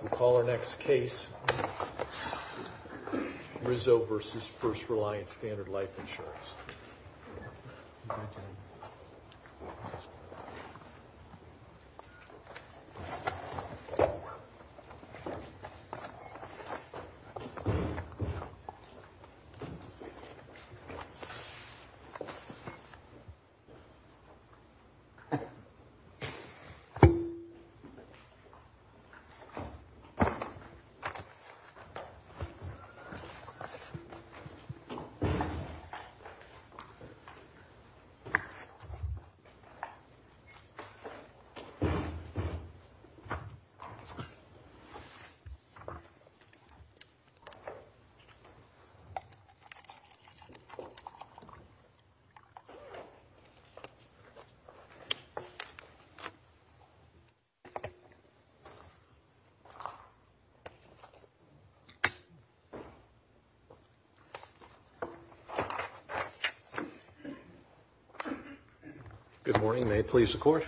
We'll call our next case Rizzo v. First Reliance Standard Life Insurance. Rizzo v. First Reliance Standard Life Insurance Rizzo v. First Reliance Standard Good morning. May it please the Court?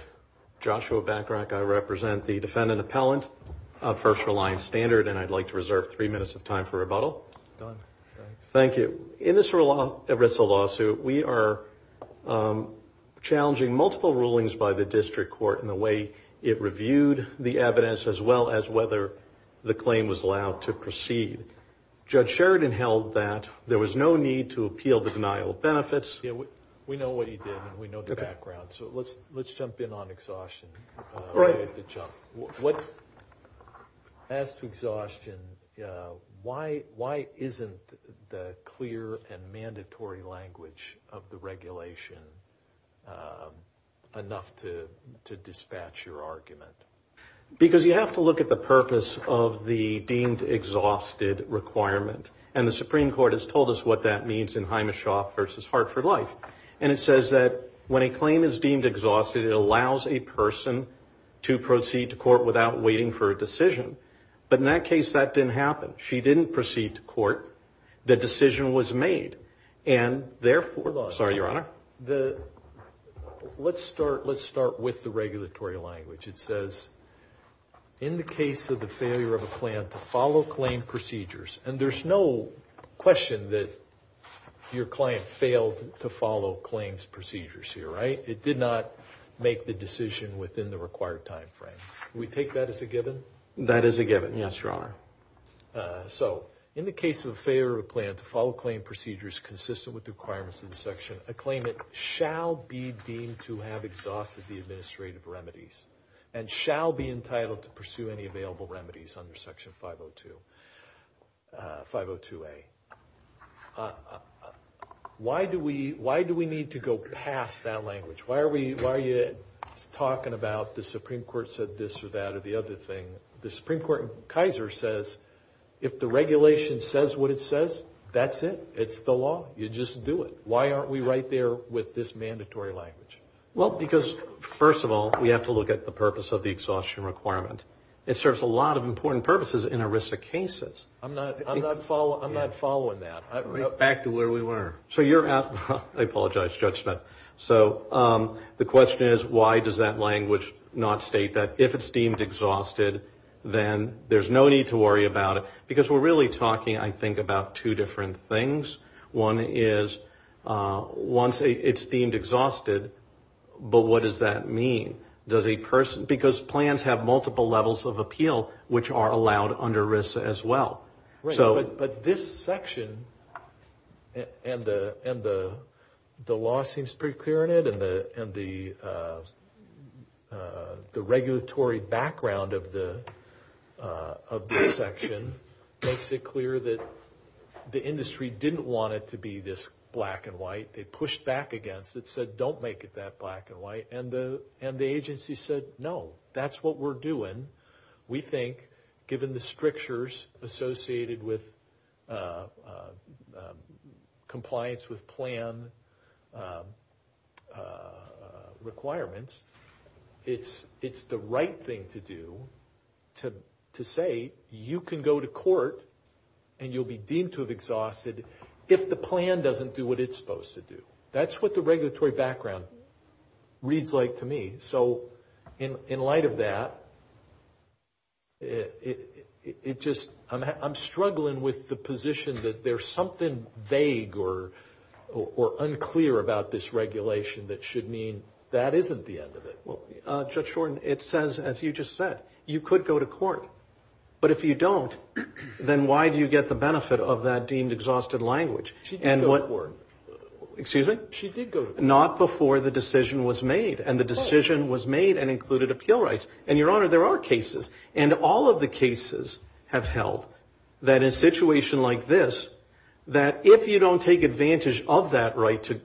Joshua Bachrach. I represent the defendant appellant of First Reliance Standard, and I'd like to reserve three minutes of time for rebuttal. Thank you. In this Rizzo lawsuit, we are challenging multiple rulings by the district court in the way it reviewed the evidence as well as whether the claim was allowed to proceed. Judge Sheridan held that there was no need to appeal the denial of benefits. We know what you did, and we know the background, so let's jump in on exhaustion. As to exhaustion, why isn't the clear and mandatory language of the regulation enough to dispatch your argument? Because you have to look at the purpose of the deemed exhausted requirement. And the Supreme Court has told us what that means in Himeshoff v. Hartford Life. And it says that when a claim is deemed exhausted, it allows a person to proceed to court without waiting for a decision. But in that case, that didn't happen. She didn't proceed to court. The decision was made. Hold on. Sorry, Your Honor. Let's start with the regulatory language. It says, in the case of the failure of a plan to follow claim procedures, and there's no question that your client failed to follow claims procedures here, right? It did not make the decision within the required time frame. We take that as a given? That is a given, yes, Your Honor. So, in the case of a failure of a plan to follow claim procedures consistent with the requirements of the section, a claimant shall be deemed to have exhausted the administrative remedies and shall be entitled to pursue any available remedies under Section 502A. Why do we need to go past that language? Why are you talking about the Supreme Court said this or that or the other thing? The Supreme Court in Kaiser says, if the regulation says what it says, that's it. It's the law. You just do it. Why aren't we right there with this mandatory language? Well, because, first of all, we have to look at the purpose of the exhaustion requirement. It serves a lot of important purposes in a risk of cases. I'm not following that. Back to where we were. So, you're out. I apologize, Judge. So, the question is, why does that language not state that if it's deemed exhausted, then there's no need to worry about it? Because we're really talking, I think, about two different things. One is, once it's deemed exhausted, but what does that mean? Does a person, because plans have multiple levels of appeal, which are allowed under risk as well. But this section, and the law seems pretty clear on it, and the regulatory background of this section makes it clear that the industry didn't want it to be this black and white. They pushed back against it, said, don't make it that black and white, and the agency said, no, that's what we're doing. We think, given the strictures associated with compliance with plan requirements, it's the right thing to do to say, you can go to court, and you'll be deemed to have exhausted if the plan doesn't do what it's supposed to do. That's what the regulatory background reads like to me. So in light of that, it just, I'm struggling with the position that there's something vague or unclear about this regulation that should mean that isn't the end of it. Well, Judge Shorten, it says, as you just said, you could go to court. But if you don't, then why do you get the benefit of that deemed exhausted language? She did go to court. Excuse me? She did go to court. Not before the decision was made, and the decision was made and included appeal rights. And, Your Honor, there are cases, and all of the cases have held that in a situation like this, that if you don't take advantage of that right to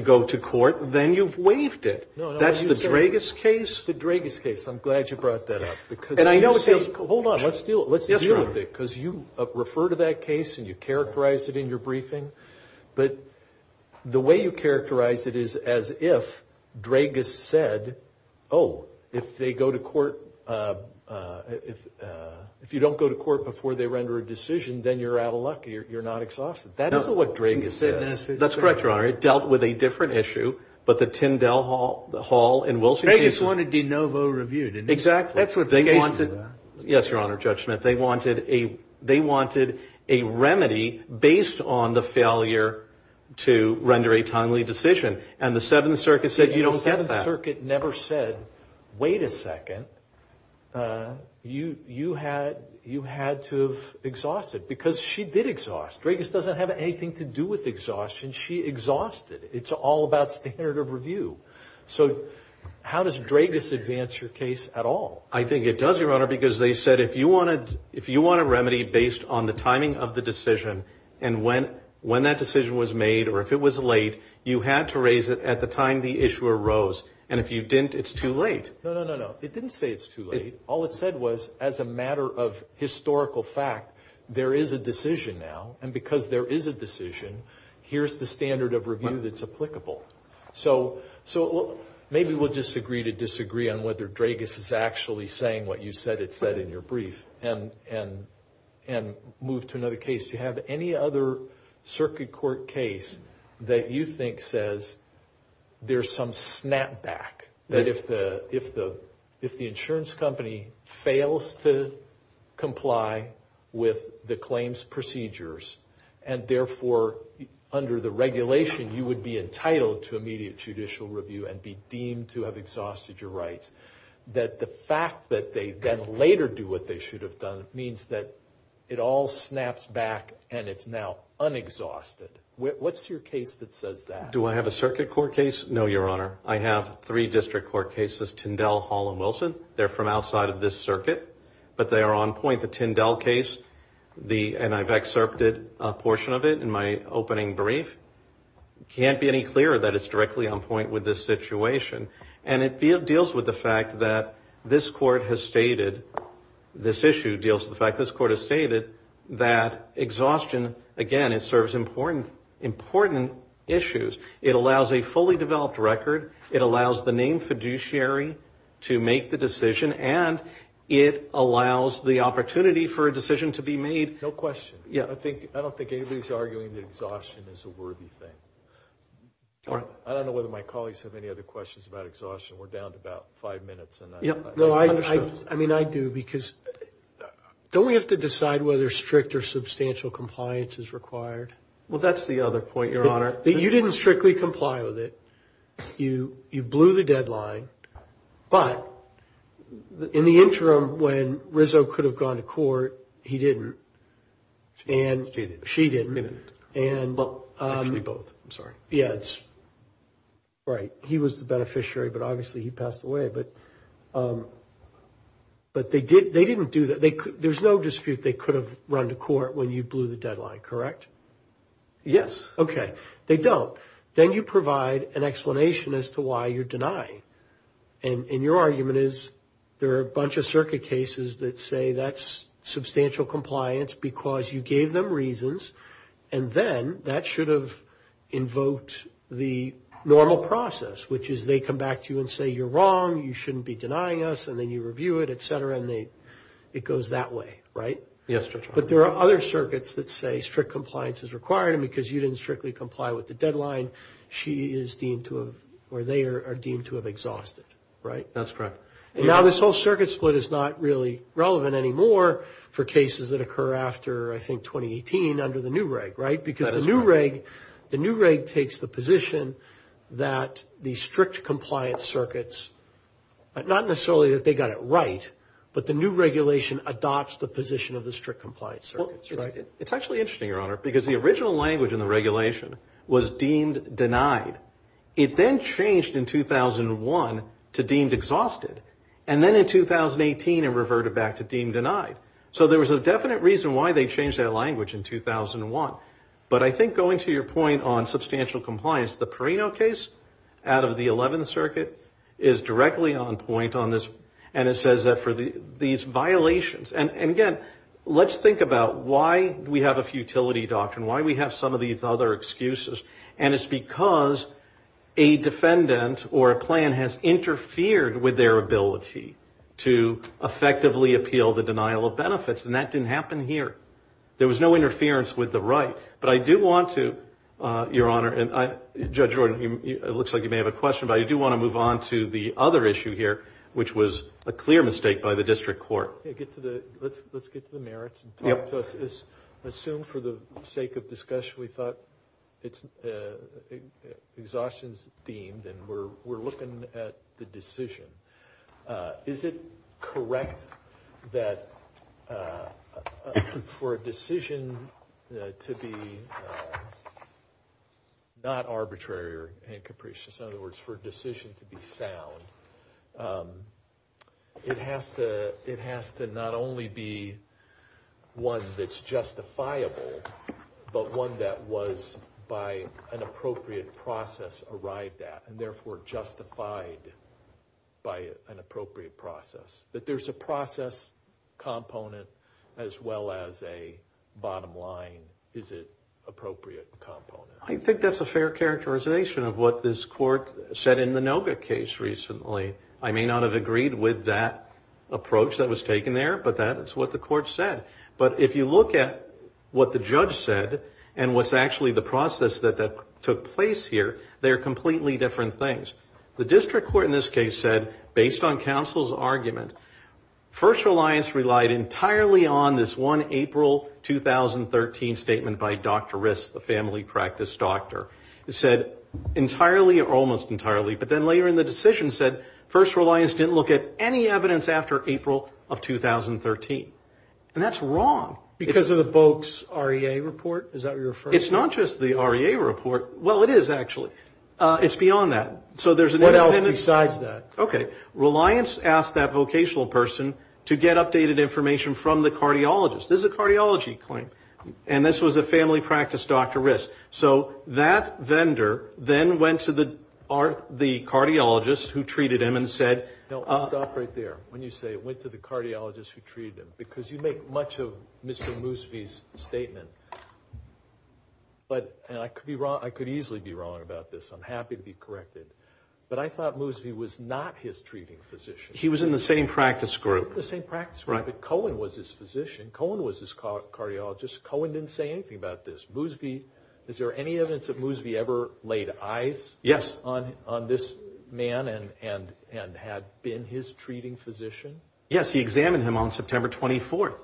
go to court, then you've waived it. That's the Dragas case. The Dragas case. I'm glad you brought that up. Hold on. Let's deal with it, because you refer to that case, and you characterized it in your briefing. But the way you characterized it is as if Dragas said, oh, if they go to court, if you don't go to court before they render a decision, then you're out of luck. You're not exhausted. That isn't what Dragas said. That's correct, Your Honor. It dealt with a different issue, but the Tyndall Hall and Wilson case. Dragas wanted de novo reviewed. Exactly. That's what the case was about. Yes, Your Honor, Judge Smith. They wanted a remedy based on the failure to render a timely decision, and the Seventh Circuit said you don't get that. The Seventh Circuit never said, wait a second, you had to have exhausted, because she did exhaust. Dragas doesn't have anything to do with exhaustion. She exhausted. It's all about standard of review. So how does Dragas advance your case at all? I think it does, Your Honor, because they said if you want a remedy based on the timing of the decision and when that decision was made or if it was late, you had to raise it at the time the issue arose. And if you didn't, it's too late. No, no, no, no. It didn't say it's too late. All it said was as a matter of historical fact, there is a decision now, and because there is a decision, here's the standard of review that's applicable. So maybe we'll disagree to disagree on whether Dragas is actually saying what you said it said in your brief and move to another case. Do you have any other circuit court case that you think says there's some snapback, that if the insurance company fails to comply with the claims procedures and, therefore, under the regulation, you would be entitled to immediate judicial review and be deemed to have exhausted your rights, that the fact that they then later do what they should have done means that it all snaps back and it's now unexhausted? What's your case that says that? Do I have a circuit court case? No, Your Honor. I have three district court cases, Tyndall, Hall, and Wilson. They're from outside of this circuit, but they are on point. The Tyndall case, and I've excerpted a portion of it in my opening brief, can't be any clearer that it's directly on point with this situation, and it deals with the fact that this court has stated, this issue deals with the fact this court has stated that exhaustion, again, it serves important issues. It allows a fully developed record. It allows the named fiduciary to make the decision, and it allows the opportunity for a decision to be made. No question. I don't think anybody's arguing that exhaustion is a worthy thing. I don't know whether my colleagues have any other questions about exhaustion. We're down to about five minutes. I mean, I do, because don't we have to decide whether strict or substantial compliance is required? Well, that's the other point, Your Honor. You didn't strictly comply with it. You blew the deadline. But in the interim, when Rizzo could have gone to court, he didn't. She didn't. She didn't. Well, actually, both. I'm sorry. Yes. Right. He was the beneficiary, but obviously he passed away. But they didn't do that. There's no dispute they could have run to court when you blew the deadline, correct? Yes. Okay. They don't. Then you provide an explanation as to why you're denying. And your argument is there are a bunch of circuit cases that say that's substantial compliance because you gave them reasons, and then that should have invoked the normal process, which is they come back to you and say you're wrong, you shouldn't be denying us, and then you review it, et cetera, and it goes that way, right? Yes, Your Honor. But there are other circuits that say strict compliance is required, and because you didn't strictly comply with the deadline, she is deemed to have or they are deemed to have exhausted, right? That's correct. And now this whole circuit split is not really relevant anymore for cases that occur after, I think, 2018 under the new reg, right? That is correct. Because the new reg takes the position that the strict compliance circuits, not necessarily that they got it right, but the new regulation adopts the position of the strict compliance circuits, right? It's actually interesting, Your Honor, because the original language in the regulation was deemed denied. It then changed in 2001 to deemed exhausted, and then in 2018 it reverted back to deemed denied. So there was a definite reason why they changed that language in 2001. But I think going to your point on substantial compliance, the Perino case out of the 11th Circuit is directly on point on this, and it says that for these violations. And, again, let's think about why we have a futility doctrine, why we have some of these other excuses, and it's because a defendant or a plan has interfered with their ability to effectively appeal the denial of benefits, and that didn't happen here. There was no interference with the right. But I do want to, Your Honor, and Judge Jordan, it looks like you may have a question, but I do want to move on to the other issue here, which was a clear mistake by the district court. Let's get to the merits and talk to us. Assume for the sake of discussion we thought exhaustion is deemed and we're looking at the decision. Is it correct that for a decision to be not arbitrary or in capricious, in other words, for a decision to be sound, it has to not only be one that's justifiable, but one that was by an appropriate process arrived at and therefore justified by an appropriate process, that there's a process component as well as a bottom line, is it appropriate component? I think that's a fair characterization of what this court said in the Noga case recently. I may not have agreed with that approach that was taken there, but that is what the court said. But if you look at what the judge said and what's actually the process that took place here, they are completely different things. The district court in this case said, based on counsel's argument, First Reliance relied entirely on this one April 2013 statement by Dr. Rist, the family practice doctor. It said entirely or almost entirely, but then later in the decision said, First Reliance didn't look at any evidence after April of 2013. And that's wrong. Because of the Boaks REA report? Is that what you're referring to? It's not just the REA report. Well, it is actually. It's beyond that. What else besides that? Okay. Reliance asked that vocational person to get updated information from the cardiologist. This is a cardiology claim. And this was a family practice doctor, Rist. So that vendor then went to the cardiologist who treated him and said, Now, stop right there when you say it went to the cardiologist who treated him. Because you make much of Mr. Moosby's statement. And I could easily be wrong about this. I'm happy to be corrected. But I thought Moosby was not his treating physician. He was in the same practice group. The same practice group. But Cohen was his physician. Cohen was his cardiologist. Cohen didn't say anything about this. Moosby, is there any evidence that Moosby ever laid eyes on this man and had been his treating physician? Yes. He examined him on September 24th.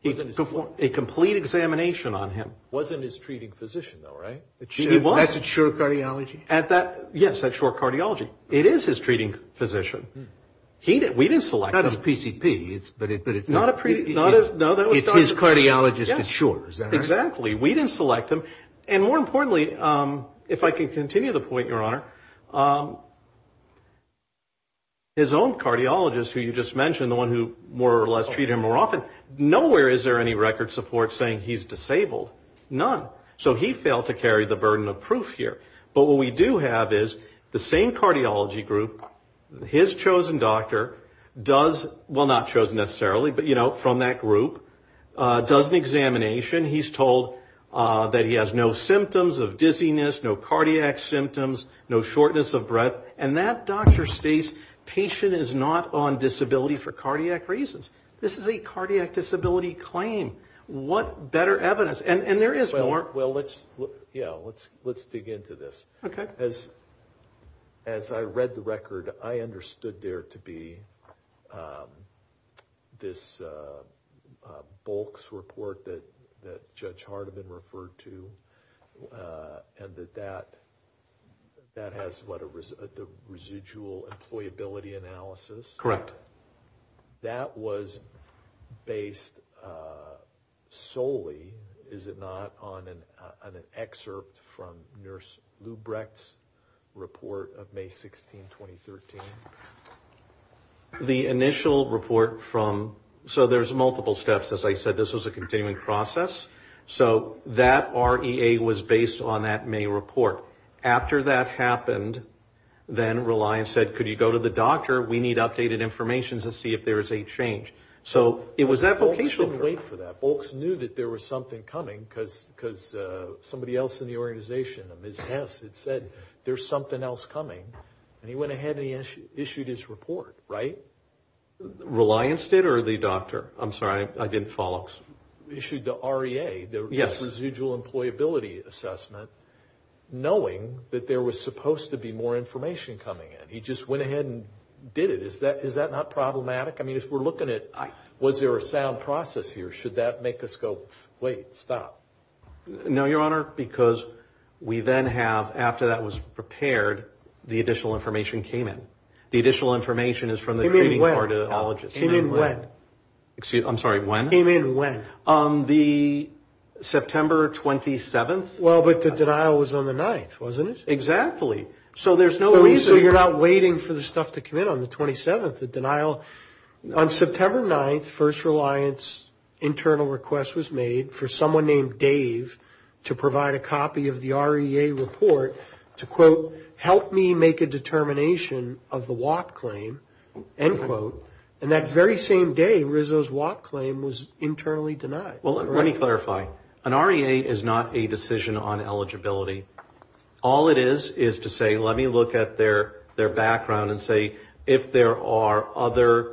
He performed a complete examination on him. Wasn't his treating physician, though, right? He was. At Sure Cardiology? At that, yes, at Sure Cardiology. It is his treating physician. We didn't select him. Not his PCP, but it's his cardiologist at Sure, is that right? Exactly. We didn't select him. And more importantly, if I can continue the point, Your Honor, his own cardiologist who you just mentioned, the one who more or less treated him more often, nowhere is there any record support saying he's disabled. None. So he failed to carry the burden of proof here. But what we do have is the same cardiology group, his chosen doctor does, well, not chosen necessarily, but, you know, from that group, does an examination. He's told that he has no symptoms of dizziness, no cardiac symptoms, no shortness of breath. And that doctor states patient is not on disability for cardiac reasons. This is a cardiac disability claim. What better evidence? And there is more. Well, let's dig into this. Okay. As I read the record, I understood there to be this bulks report that Judge Hardiman referred to and that that has the residual employability analysis. Correct. But that was based solely, is it not, on an excerpt from Nurse Lubrecht's report of May 16, 2013? The initial report from, so there's multiple steps. As I said, this was a continuing process. So that REA was based on that May report. After that happened, then Reliance said, could you go to the doctor? We need updated information to see if there is a change. So it was that vocational. Bulks didn't wait for that. Bulks knew that there was something coming because somebody else in the organization, Ms. Hess, had said there's something else coming. And he went ahead and he issued his report, right? Reliance did or the doctor? I'm sorry, I didn't follow. Issued the REA, the residual employability assessment, knowing that there was supposed to be more information coming in. He just went ahead and did it. Is that not problematic? I mean, if we're looking at was there a sound process here, should that make us go, wait, stop? No, Your Honor, because we then have, after that was prepared, the additional information came in. The additional information is from the treating cardiologist. Came in when? I'm sorry, when? Came in when? The September 27th. Well, but the denial was on the 9th, wasn't it? Exactly. So there's no reason. So you're not waiting for the stuff to come in on the 27th, the denial. On September 9th, first Reliance internal request was made for someone named Dave to provide a copy of the REA report to, quote, help me make a determination of the WAP claim, end quote. And that very same day, Rizzo's WAP claim was internally denied. Well, let me clarify. An REA is not a decision on eligibility. All it is is to say, let me look at their background and say, if there are other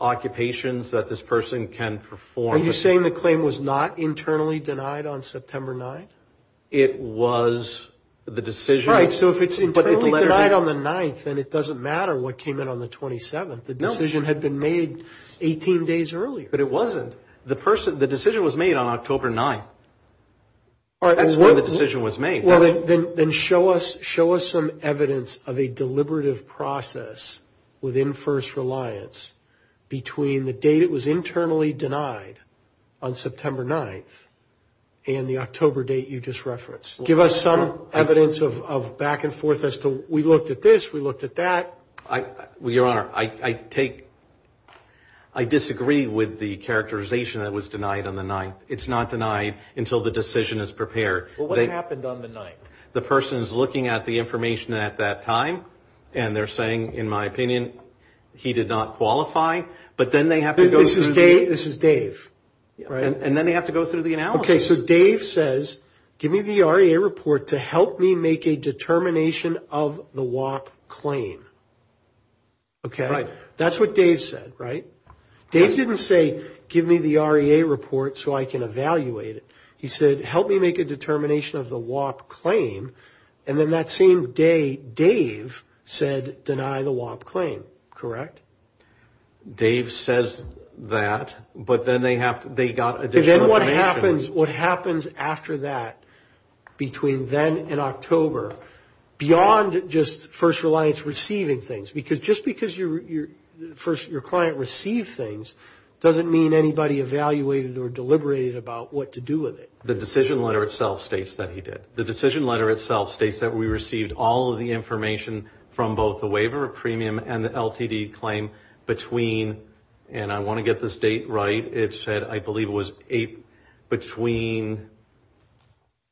occupations that this person can perform. Are you saying the claim was not internally denied on September 9th? It was the decision. All right, so if it's internally denied on the 9th, then it doesn't matter what came in on the 27th. The decision had been made 18 days earlier. But it wasn't. The decision was made on October 9th. That's when the decision was made. Then show us some evidence of a deliberative process within first Reliance between the date it was internally denied on September 9th and the October date you just referenced. Give us some evidence of back and forth as to, we looked at this, we looked at that. Your Honor, I disagree with the characterization that it was denied on the 9th. It's not denied until the decision is prepared. What happened on the 9th? The person is looking at the information at that time, and they're saying, in my opinion, he did not qualify. But then they have to go through. This is Dave, right? And then they have to go through the analysis. Okay, so Dave says, give me the REA report to help me make a determination of the WAP claim. Okay? Right. That's what Dave said, right? Dave didn't say, give me the REA report so I can evaluate it. He said, help me make a determination of the WAP claim, and then that same day Dave said, deny the WAP claim, correct? Dave says that, but then they got additional information. Then what happens after that between then and October, beyond just first Reliance receiving things, because just because your client received things doesn't mean anybody evaluated or deliberated about what to do with it. The decision letter itself states that he did. The decision letter itself states that we received all of the information from both the waiver of premium and the LTD claim between, and I want to get this date right. It said, I believe it was between,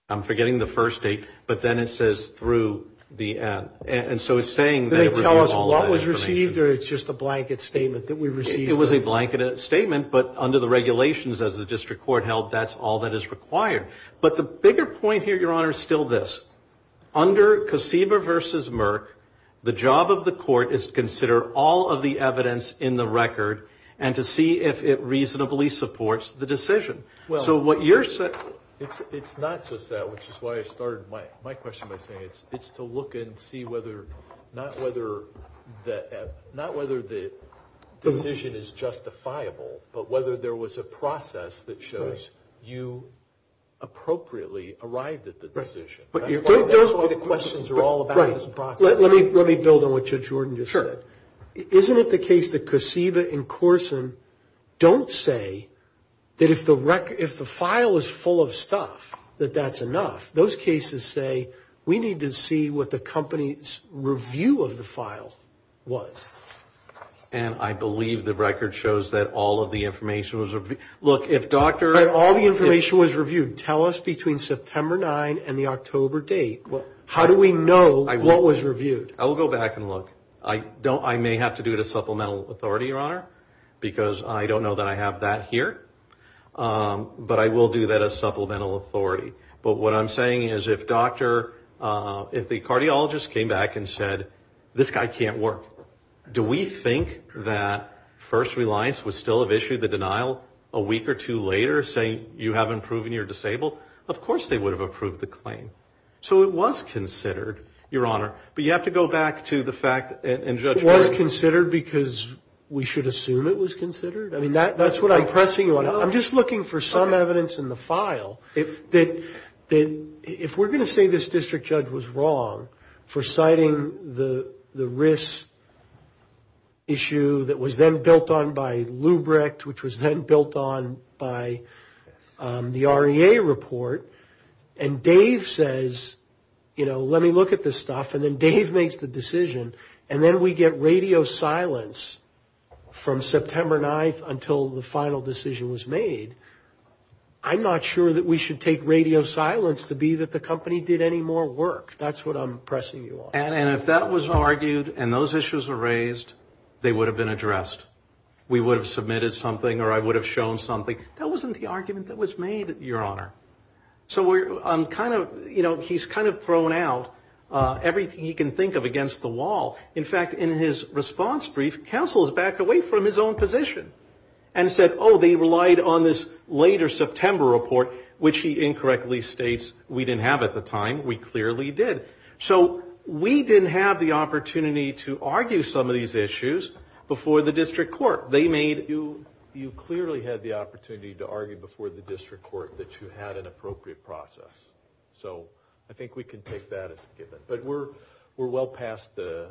I'm forgetting the first date, but then it says through the end. Did they tell us what was received, or it's just a blanket statement that we received? It was a blanket statement, but under the regulations as the district court held, that's all that is required. But the bigger point here, Your Honor, is still this. Under Kosiba v. Merck, the job of the court is to consider all of the evidence in the record and to see if it reasonably supports the decision. It's not just that, which is why I started my question by saying it. It's to look and see whether, not whether the decision is justifiable, but whether there was a process that shows you appropriately arrived at the decision. That's why the questions are all about this process. Let me build on what Jordan just said. Sure. Isn't it the case that Kosiba and Corson don't say that if the file is full of stuff, that that's enough? Those cases say we need to see what the company's review of the file was. And I believe the record shows that all of the information was reviewed. Look, if Dr. If all the information was reviewed, tell us between September 9 and the October date, how do we know what was reviewed? I will go back and look. I may have to do it as supplemental authority, Your Honor, because I don't know that I have that here. But I will do that as supplemental authority. But what I'm saying is if Dr. If the cardiologist came back and said, this guy can't work. Do we think that First Reliance would still have issued the denial a week or two later saying you haven't proven you're disabled? Of course they would have approved the claim. So it was considered, Your Honor. But you have to go back to the fact. It was considered because we should assume it was considered. I mean, that's what I'm pressing you on. I'm just looking for some evidence in the file. If we're going to say this district judge was wrong for citing the risk issue that was then built on by Lubric, which was then built on by the REA report, and Dave says, you know, let me look at this stuff. And then Dave makes the decision. And then we get radio silence from September 9th until the final decision was made. I'm not sure that we should take radio silence to be that the company did any more work. That's what I'm pressing you on. And if that was argued and those issues were raised, they would have been addressed. We would have submitted something or I would have shown something. That wasn't the argument that was made, Your Honor. So we're kind of, you know, he's kind of thrown out everything he can think of against the wall. In fact, in his response brief, counsel has backed away from his own position and said, oh, they relied on this later September report, which he incorrectly states we didn't have at the time. We clearly did. So we didn't have the opportunity to argue some of these issues before the district court. You clearly had the opportunity to argue before the district court that you had an appropriate process. So I think we can take that as a given. But we're well past the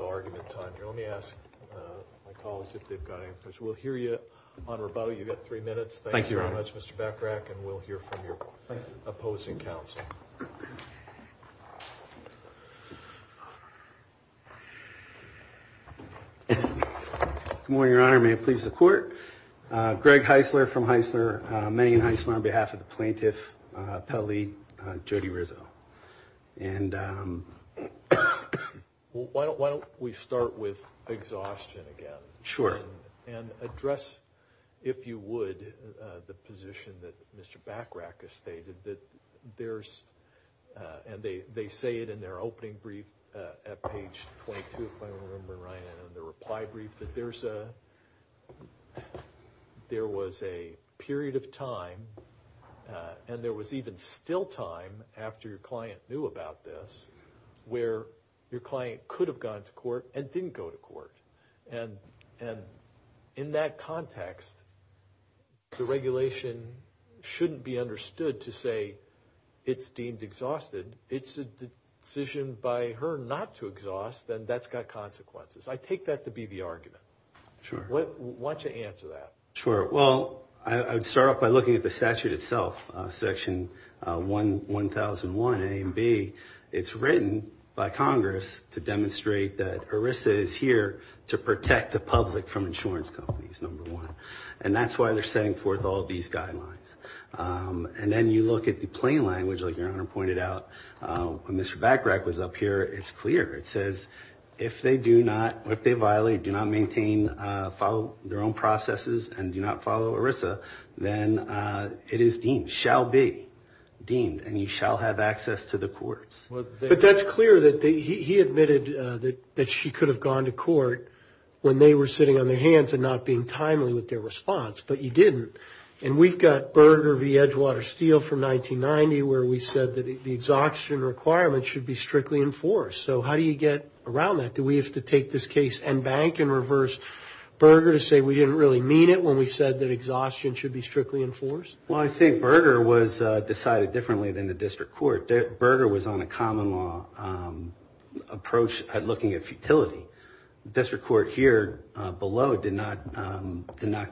argument time here. Let me ask my colleagues if they've got any questions. We'll hear you on rebuttal. You've got three minutes. Thank you very much, Mr. Bachrach. And we'll hear from your opposing counsel. Good morning, Your Honor. May it please the court. Greg Heisler from Heisler. Megan Heisler on behalf of the plaintiff, appellee Jody Rizzo. And why don't we start with exhaustion again. Sure. And address, if you would, the position that Mr. Bachrach has stated that there's, and they say it in their opening brief at page 22, if I remember right, in the reply brief, that there was a period of time, and there was even still time after your client knew about this, where your client could have gone to court and didn't go to court. And in that context, the regulation shouldn't be understood to say it's deemed exhausted. It's a decision by her not to exhaust, and that's got consequences. I take that to be the argument. Sure. Why don't you answer that? Sure. Well, I would start off by looking at the statute itself, Section 1001A and B. It's written by Congress to demonstrate that ERISA is here to protect the public from insurance companies, number one. And that's why they're setting forth all these guidelines. And then you look at the plain language, like Your Honor pointed out, when Mr. Bachrach was up here, it's clear. It says, if they violate, do not maintain, follow their own processes, and do not follow ERISA, then it is deemed, shall be deemed, and you shall have access to the courts. But that's clear that he admitted that she could have gone to court when they were sitting on their hands and not being timely with their response, but you didn't. And we've got Berger v. Edgewater Steel from 1990, where we said that the exhaustion requirement should be strictly enforced. So how do you get around that? Do we have to take this case and bank and reverse Berger to say we didn't really mean it when we said that exhaustion should be strictly enforced? Well, I think Berger was decided differently than the district court. Berger was on a common law approach at looking at futility. The district court here below did not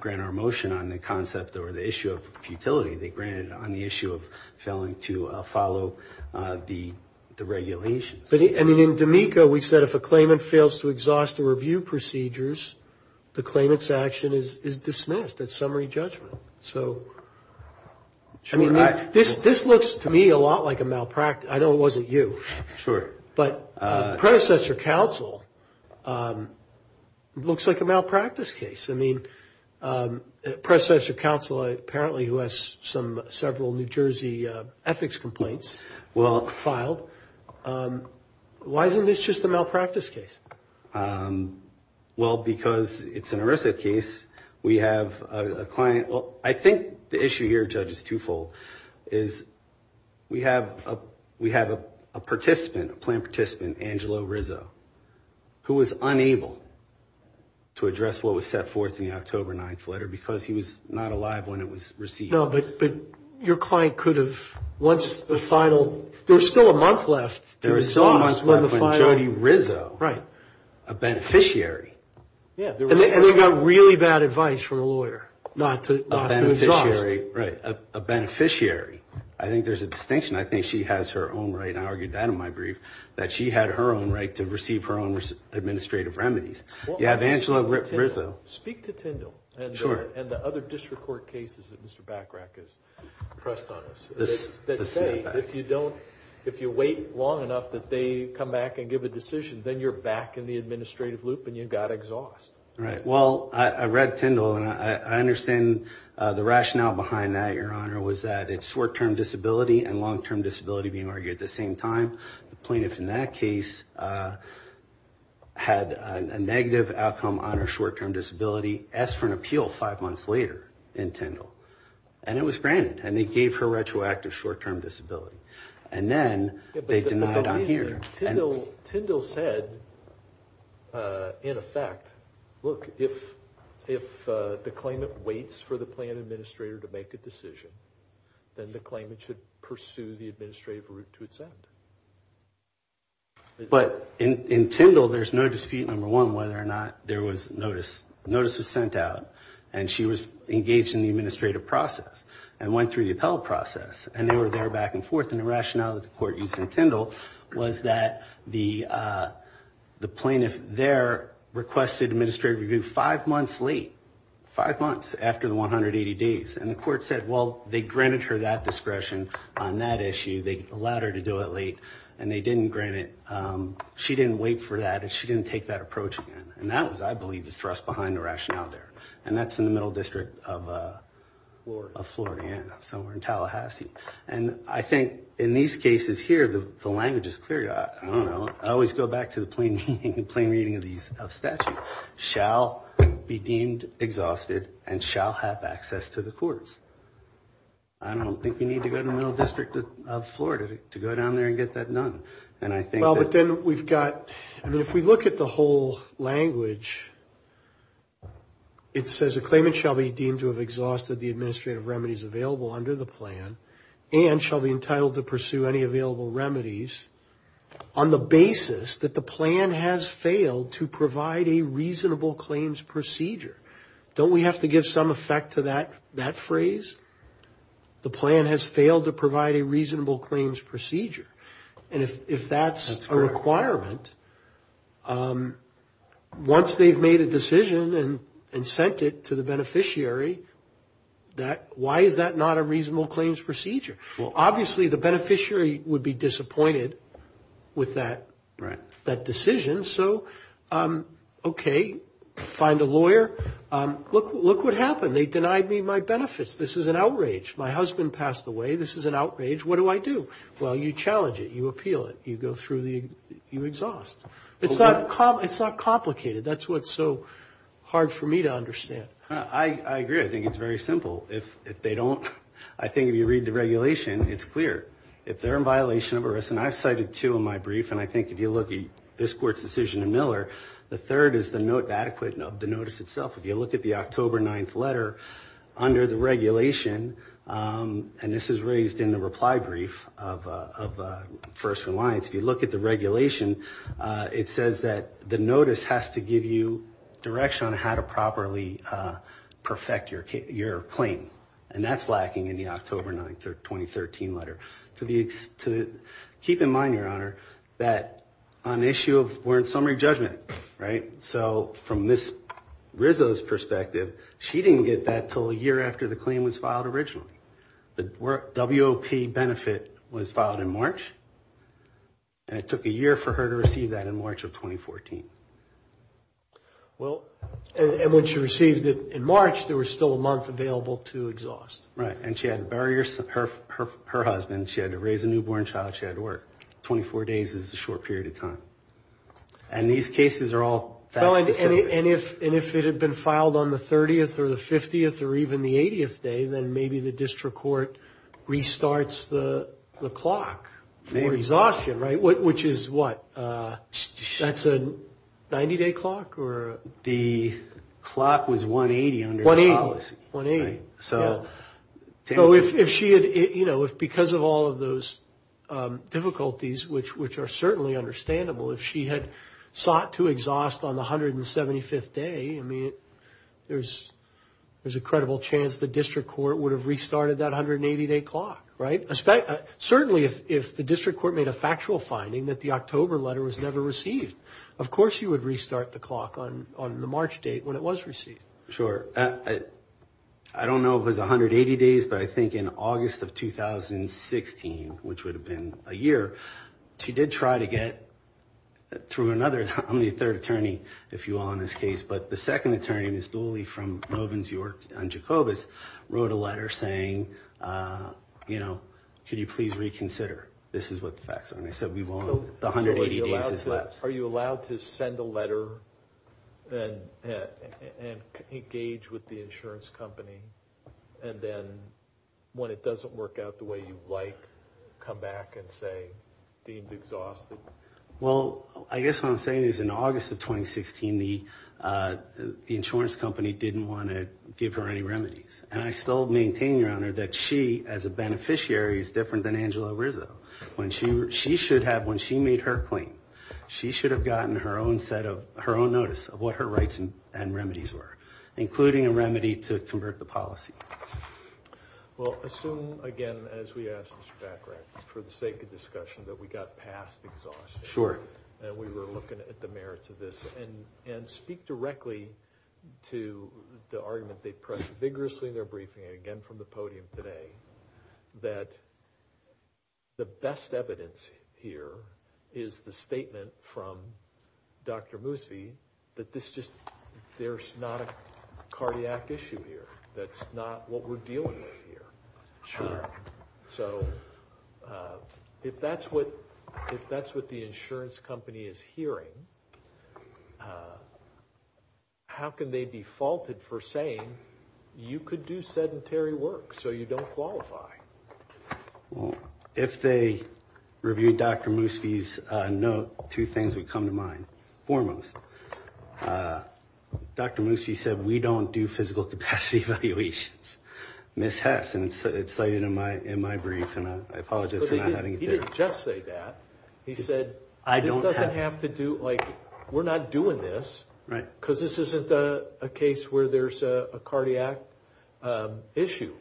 grant our motion on the concept or the issue of futility. They granted it on the issue of failing to follow the regulations. But, I mean, in D'Amico, we said if a claimant fails to exhaust the review procedures, the claimant's action is dismissed as summary judgment. So, I mean, this looks to me a lot like a malpractice. I know it wasn't you. Sure. But predecessor counsel looks like a malpractice case. I mean, predecessor counsel, apparently, who has several New Jersey ethics complaints, filed. Why isn't this just a malpractice case? Well, because it's an ERISA case. We have a client. to address what was set forth in the October 9th letter because he was not alive when it was received. No, but your client could have, once the final, there was still a month left to exhaust. There was still a month left when Jody Rizzo, a beneficiary. And they got really bad advice from a lawyer not to exhaust. A beneficiary, right, a beneficiary. I think there's a distinction. I think she has her own right, and I argued that in my brief, that she had her own right to receive her own administrative remedies. You have Angela Rizzo. Speak to Tyndall. Sure. And the other district court cases that Mr. Bachrach has pressed on us. That say if you wait long enough that they come back and give a decision, then you're back in the administrative loop and you've got exhaust. Right. Well, I read Tyndall, and I understand the rationale behind that, Your Honor, was that it's short-term disability and long-term disability being argued at the same time. The plaintiff in that case had a negative outcome on her short-term disability, asked for an appeal five months later in Tyndall. And it was granted, and they gave her retroactive short-term disability. And then they denied on here. Tyndall said, in effect, look, if the claimant waits for the plan administrator to make a decision, then the claimant should pursue the administrative route to its end. But in Tyndall, there's no dispute, number one, whether or not there was notice. Notice was sent out, and she was engaged in the administrative process and went through the appellate process, and they were there back and forth. And the rationale that the court used in Tyndall was that the plaintiff there requested administrative review five months late, five months after the 180 days. And the court said, well, they granted her that discretion on that issue. They allowed her to do it late, and they didn't grant it. She didn't wait for that, and she didn't take that approach again. And that was, I believe, the thrust behind the rationale there. And that's in the Middle District of Florida. So we're in Tallahassee. And I think in these cases here, the language is clear. I don't know. I always go back to the plain reading of statute. The plaintiff shall be deemed exhausted and shall have access to the courts. I don't think you need to go to the Middle District of Florida to go down there and get that done. And I think that we've got, I mean, if we look at the whole language, it says, a claimant shall be deemed to have exhausted the administrative remedies available under the plan and shall be entitled to pursue any available remedies on the basis that the plan has failed to provide a reasonable claims procedure. Don't we have to give some effect to that phrase? The plan has failed to provide a reasonable claims procedure. And if that's a requirement, once they've made a decision and sent it to the beneficiary, why is that not a reasonable claims procedure? Well, obviously, the beneficiary would be disappointed with that decision. So, okay, find a lawyer. Look what happened. They denied me my benefits. This is an outrage. My husband passed away. This is an outrage. What do I do? Well, you challenge it. You appeal it. You go through the, you exhaust. It's not complicated. That's what's so hard for me to understand. I agree. I think it's very simple. If they don't, I think if you read the regulation, it's clear. If they're in violation of a risk, and I've cited two in my brief, and I think if you look at this court's decision in Miller, the third is the note adequate of the notice itself. If you look at the October 9th letter under the regulation, and this is raised in the reply brief of First Reliance, if you look at the regulation, it says that the notice has to give you direction on how to properly perfect your claim. And that's lacking in the October 9th of 2013 letter. Keep in mind, Your Honor, that on the issue of summary judgment, right, so from Ms. Rizzo's perspective, she didn't get that until a year after the claim was filed originally. The WOP benefit was filed in March, and it took a year for her to receive that in March of 2014. Well, and when she received it in March, there was still a month available to exhaust. Right, and she had barriers. Her husband, she had to raise a newborn child. She had to work. Twenty-four days is a short period of time. And these cases are all fact specific. And if it had been filed on the 30th or the 50th or even the 80th day, then maybe the district court restarts the clock for exhaustion, right, which is what? That's a 90-day clock? The clock was 180 under the policy. 180. So if she had, you know, if because of all of those difficulties, which are certainly understandable, if she had sought to exhaust on the 175th day, I mean, there's a credible chance the district court would have restarted that 180-day clock, right? Certainly if the district court made a factual finding that the October letter was never received, of course you would restart the clock on the March date when it was received. Sure. I don't know if it was 180 days, but I think in August of 2016, which would have been a year, she did try to get through another, I'm the third attorney, if you will, on this case, but the second attorney, Ms. Dooley from Robins, York, and Jacobus, wrote a letter saying, you know, could you please reconsider? This is what the facts are. And I said we won't. The 180 days is left. Are you allowed to send a letter and engage with the insurance company, and then when it doesn't work out the way you'd like, come back and say deemed exhausted? Well, I guess what I'm saying is in August of 2016, the insurance company didn't want to give her any remedies, and I still maintain, Your Honor, that she, as a beneficiary, is different than Angela Rizzo. When she should have, when she made her claim, she should have gotten her own set of, her own notice of what her rights and remedies were, including a remedy to convert the policy. Well, assume, again, as we asked Mr. Bachrach, for the sake of discussion, that we got past exhaustion. Sure. And we were looking at the merits of this, and speak directly to the argument they pressed vigorously in their briefing, and again from the podium today, that the best evidence here is the statement from Dr. Moosby, that this just, there's not a cardiac issue here. That's not what we're dealing with here. Sure. So, if that's what the insurance company is hearing, how can they be faulted for saying, you could do sedentary work, so you don't qualify? Well, if they reviewed Dr. Moosby's note, two things would come to mind. Foremost, Dr. Moosby said, we don't do physical capacity evaluations. Ms. Hess, and it's cited in my brief, and I apologize for not having it there. He didn't just say that. He said, this doesn't have to do, like, we're not doing this. Right. Because this isn't a case where there's a cardiac issue.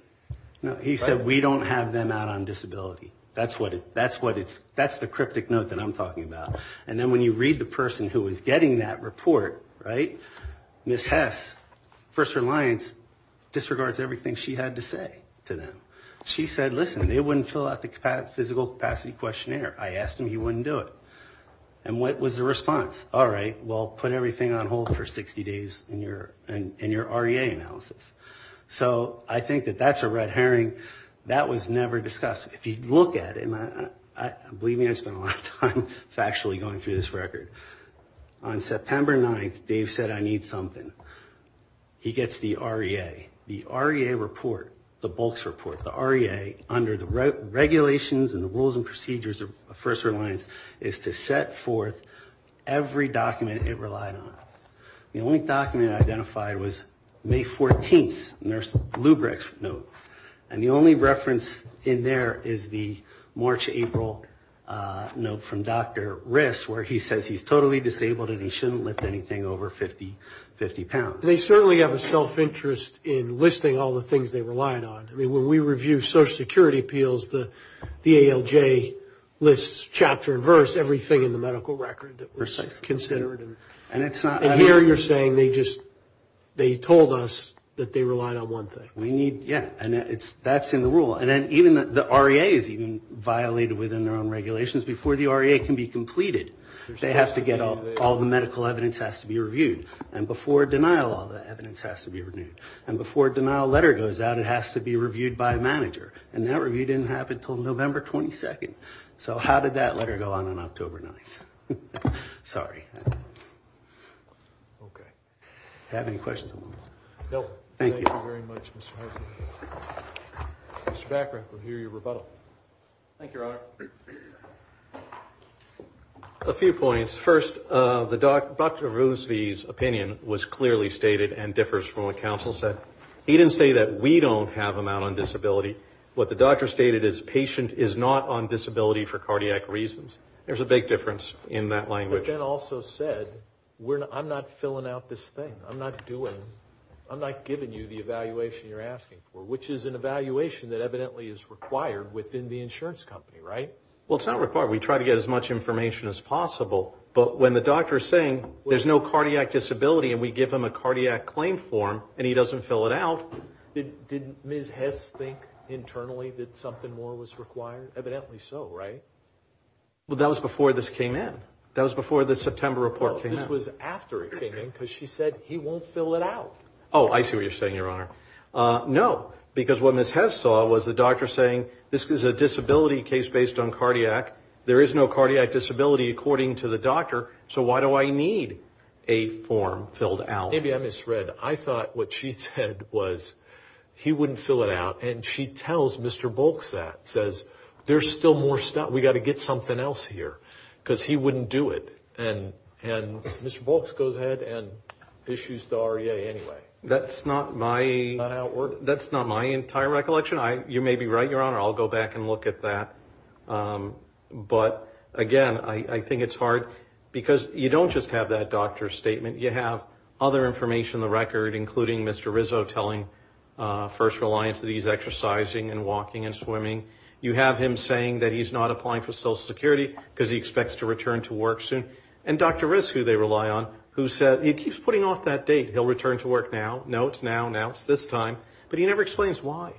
No. He said, we don't have them out on disability. That's the cryptic note that I'm talking about. And then when you read the person who was getting that report, right, Ms. Hess, First Reliance, disregards everything she had to say to them. She said, listen, they wouldn't fill out the physical capacity questionnaire. I asked him, he wouldn't do it. And what was the response? All right, well, put everything on hold for 60 days in your REA analysis. So I think that that's a red herring. That was never discussed. If you look at it, and believe me, I spent a lot of time factually going through this record. On September 9th, Dave said, I need something. He gets the REA. The REA report, the bulks report, the REA, under the regulations and the rules and procedures of First Reliance, is to set forth every document it relied on. The only document identified was May 14th, nurse Lubric's note. And the only reference in there is the March, April note from Dr. Riss, where he says he's totally disabled and he shouldn't lift anything over 50, 50 pounds. They certainly have a self-interest in listing all the things they relied on. I mean, when we review Social Security appeals, the ALJ lists chapter and verse, everything in the medical record that was considered. And here you're saying they just, they told us that they relied on one thing. We need, yeah, and that's in the rule. And then even the REA is even violated within their own regulations. Before the REA can be completed, they have to get all the medical evidence has to be reviewed. And before denial, all the evidence has to be renewed. And before denial letter goes out, it has to be reviewed by a manager. And that review didn't happen until November 22nd. So how did that letter go on on October 9th? Sorry. Okay. Have any questions? Nope. Thank you very much. Mr. Backer, we'll hear your rebuttal. Thank you, Your Honor. A few points. First, Dr. Roosevee's opinion was clearly stated and differs from what counsel said. He didn't say that we don't have them out on disability. What the doctor stated is patient is not on disability for cardiac reasons. There's a big difference in that language. But then also said, I'm not filling out this thing. I'm not doing it. I'm not giving you the evaluation you're asking for, which is an evaluation that evidently is required within the insurance company, right? Well, it's not required. We try to get as much information as possible. But when the doctor is saying there's no cardiac disability and we give him a cardiac claim form and he doesn't fill it out. Did Ms. Hess think internally that something more was required? Evidently so, right? Well, that was before this came in. That was before the September report came out. This was after it came in because she said he won't fill it out. Oh, I see what you're saying, Your Honor. No, because what Ms. Hess saw was the doctor saying this is a disability case based on cardiac. There is no cardiac disability according to the doctor. So why do I need a form filled out? Maybe I misread. I thought what she said was he wouldn't fill it out. And she tells Mr. Bolks that, says there's still more stuff. We've got to get something else here because he wouldn't do it. And Mr. Bolks goes ahead and issues the REA anyway. That's not my entire recollection. You may be right, Your Honor. I'll go back and look at that. But, again, I think it's hard because you don't just have that doctor's statement. You have other information on the record, including Mr. Rizzo telling First Reliance that he's exercising and walking and swimming. You have him saying that he's not applying for Social Security because he expects to return to work soon. And Dr. Riz, who they rely on, who said he keeps putting off that date. He'll return to work now. No, it's now. Now it's this time. But he never explains why.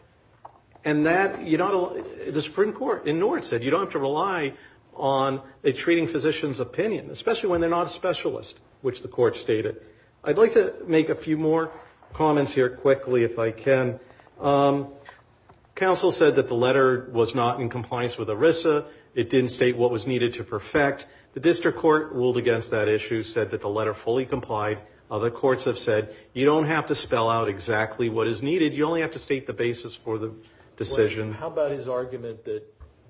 And that, you know, the Supreme Court in Norton said you don't have to rely on a treating physician's opinion, especially when they're not a specialist, which the court stated. I'd like to make a few more comments here quickly, if I can. Counsel said that the letter was not in compliance with Arisa. It didn't state what was needed to perfect. The district court ruled against that issue, said that the letter fully complied. Other courts have said, you don't have to spell out exactly what is needed. You only have to state the basis for the decision. How about his argument that,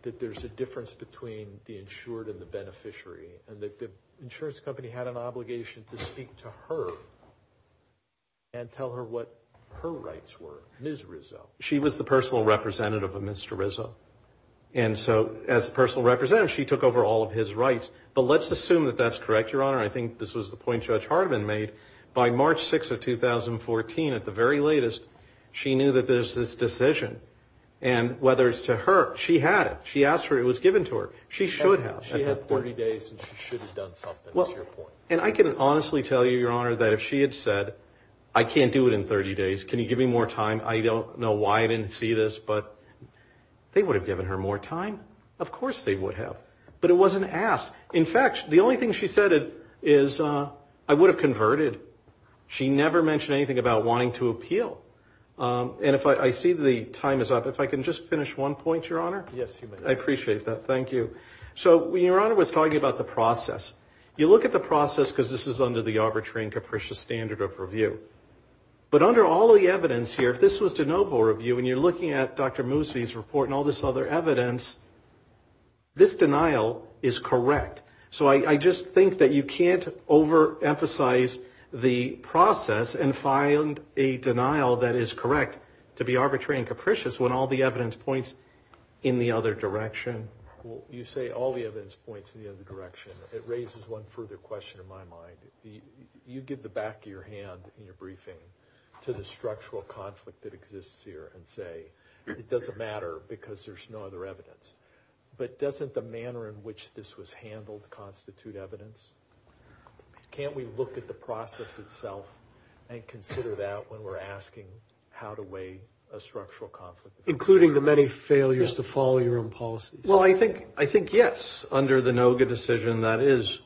that there's a difference between the insured and the beneficiary and that the insurance company had an obligation to speak to her and tell her what her rights were. Ms. Rizzo. She was the personal representative of Mr. Rizzo. And so as a personal representative, she took over all of his rights, but let's assume that that's correct. Your honor. I think this was the point judge Harvin made by March 6th of 2014 at the very latest. She knew that there's this decision and whether it's to her, she had it. She asked for it. It was given to her. She should have, she had 40 days and she should have done something. Well, and I can honestly tell you, your honor, that if she had said, I can't do it in 30 days. Can you give me more time? I don't know why I didn't see this, but they would have given her more time. Of course they would have, but it wasn't asked. In fact, the only thing she said is I would have converted. She never mentioned anything about wanting to appeal. And if I, I see the time is up. If I can just finish one point, your honor. Yes. I appreciate that. Thank you. So when your honor was talking about the process, you look at the process, because this is under the arbitrary and capricious standard of review, but under all the evidence here, if this was to noble review, and you're looking at Dr. Moussey's report and all this other evidence, this denial is correct. So I just think that you can't overemphasize the process and find a denial that is correct to be arbitrary and capricious when all the evidence points in the other direction. You say all the evidence points in the other direction. It raises one further question in my mind. You give the back of your hand in your briefing to the structural conflict that exists here and say it doesn't matter because there's no other evidence. But doesn't the manner in which this was handled constitute evidence? Can't we look at the process itself and consider that when we're asking how to weigh a structural conflict? Including the many failures to follow your own policies. Well, I think yes. Under the NOGA decision, that is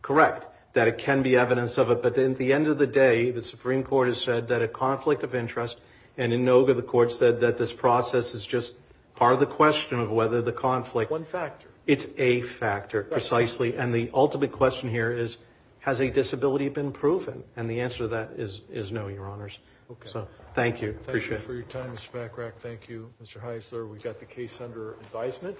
correct, that it can be evidence of it. But at the end of the day, the Supreme Court has said that a conflict of interest, and in NOGA, the court said that this process is just part of the question of whether the conflict... One factor. It's a factor, precisely. And the ultimate question here is, has a disability been proven? And the answer to that is no, Your Honors. Okay. So thank you. Thank you for your time, Mr. Bachrach. Thank you, Mr. Heisler. We've got the case under advisement.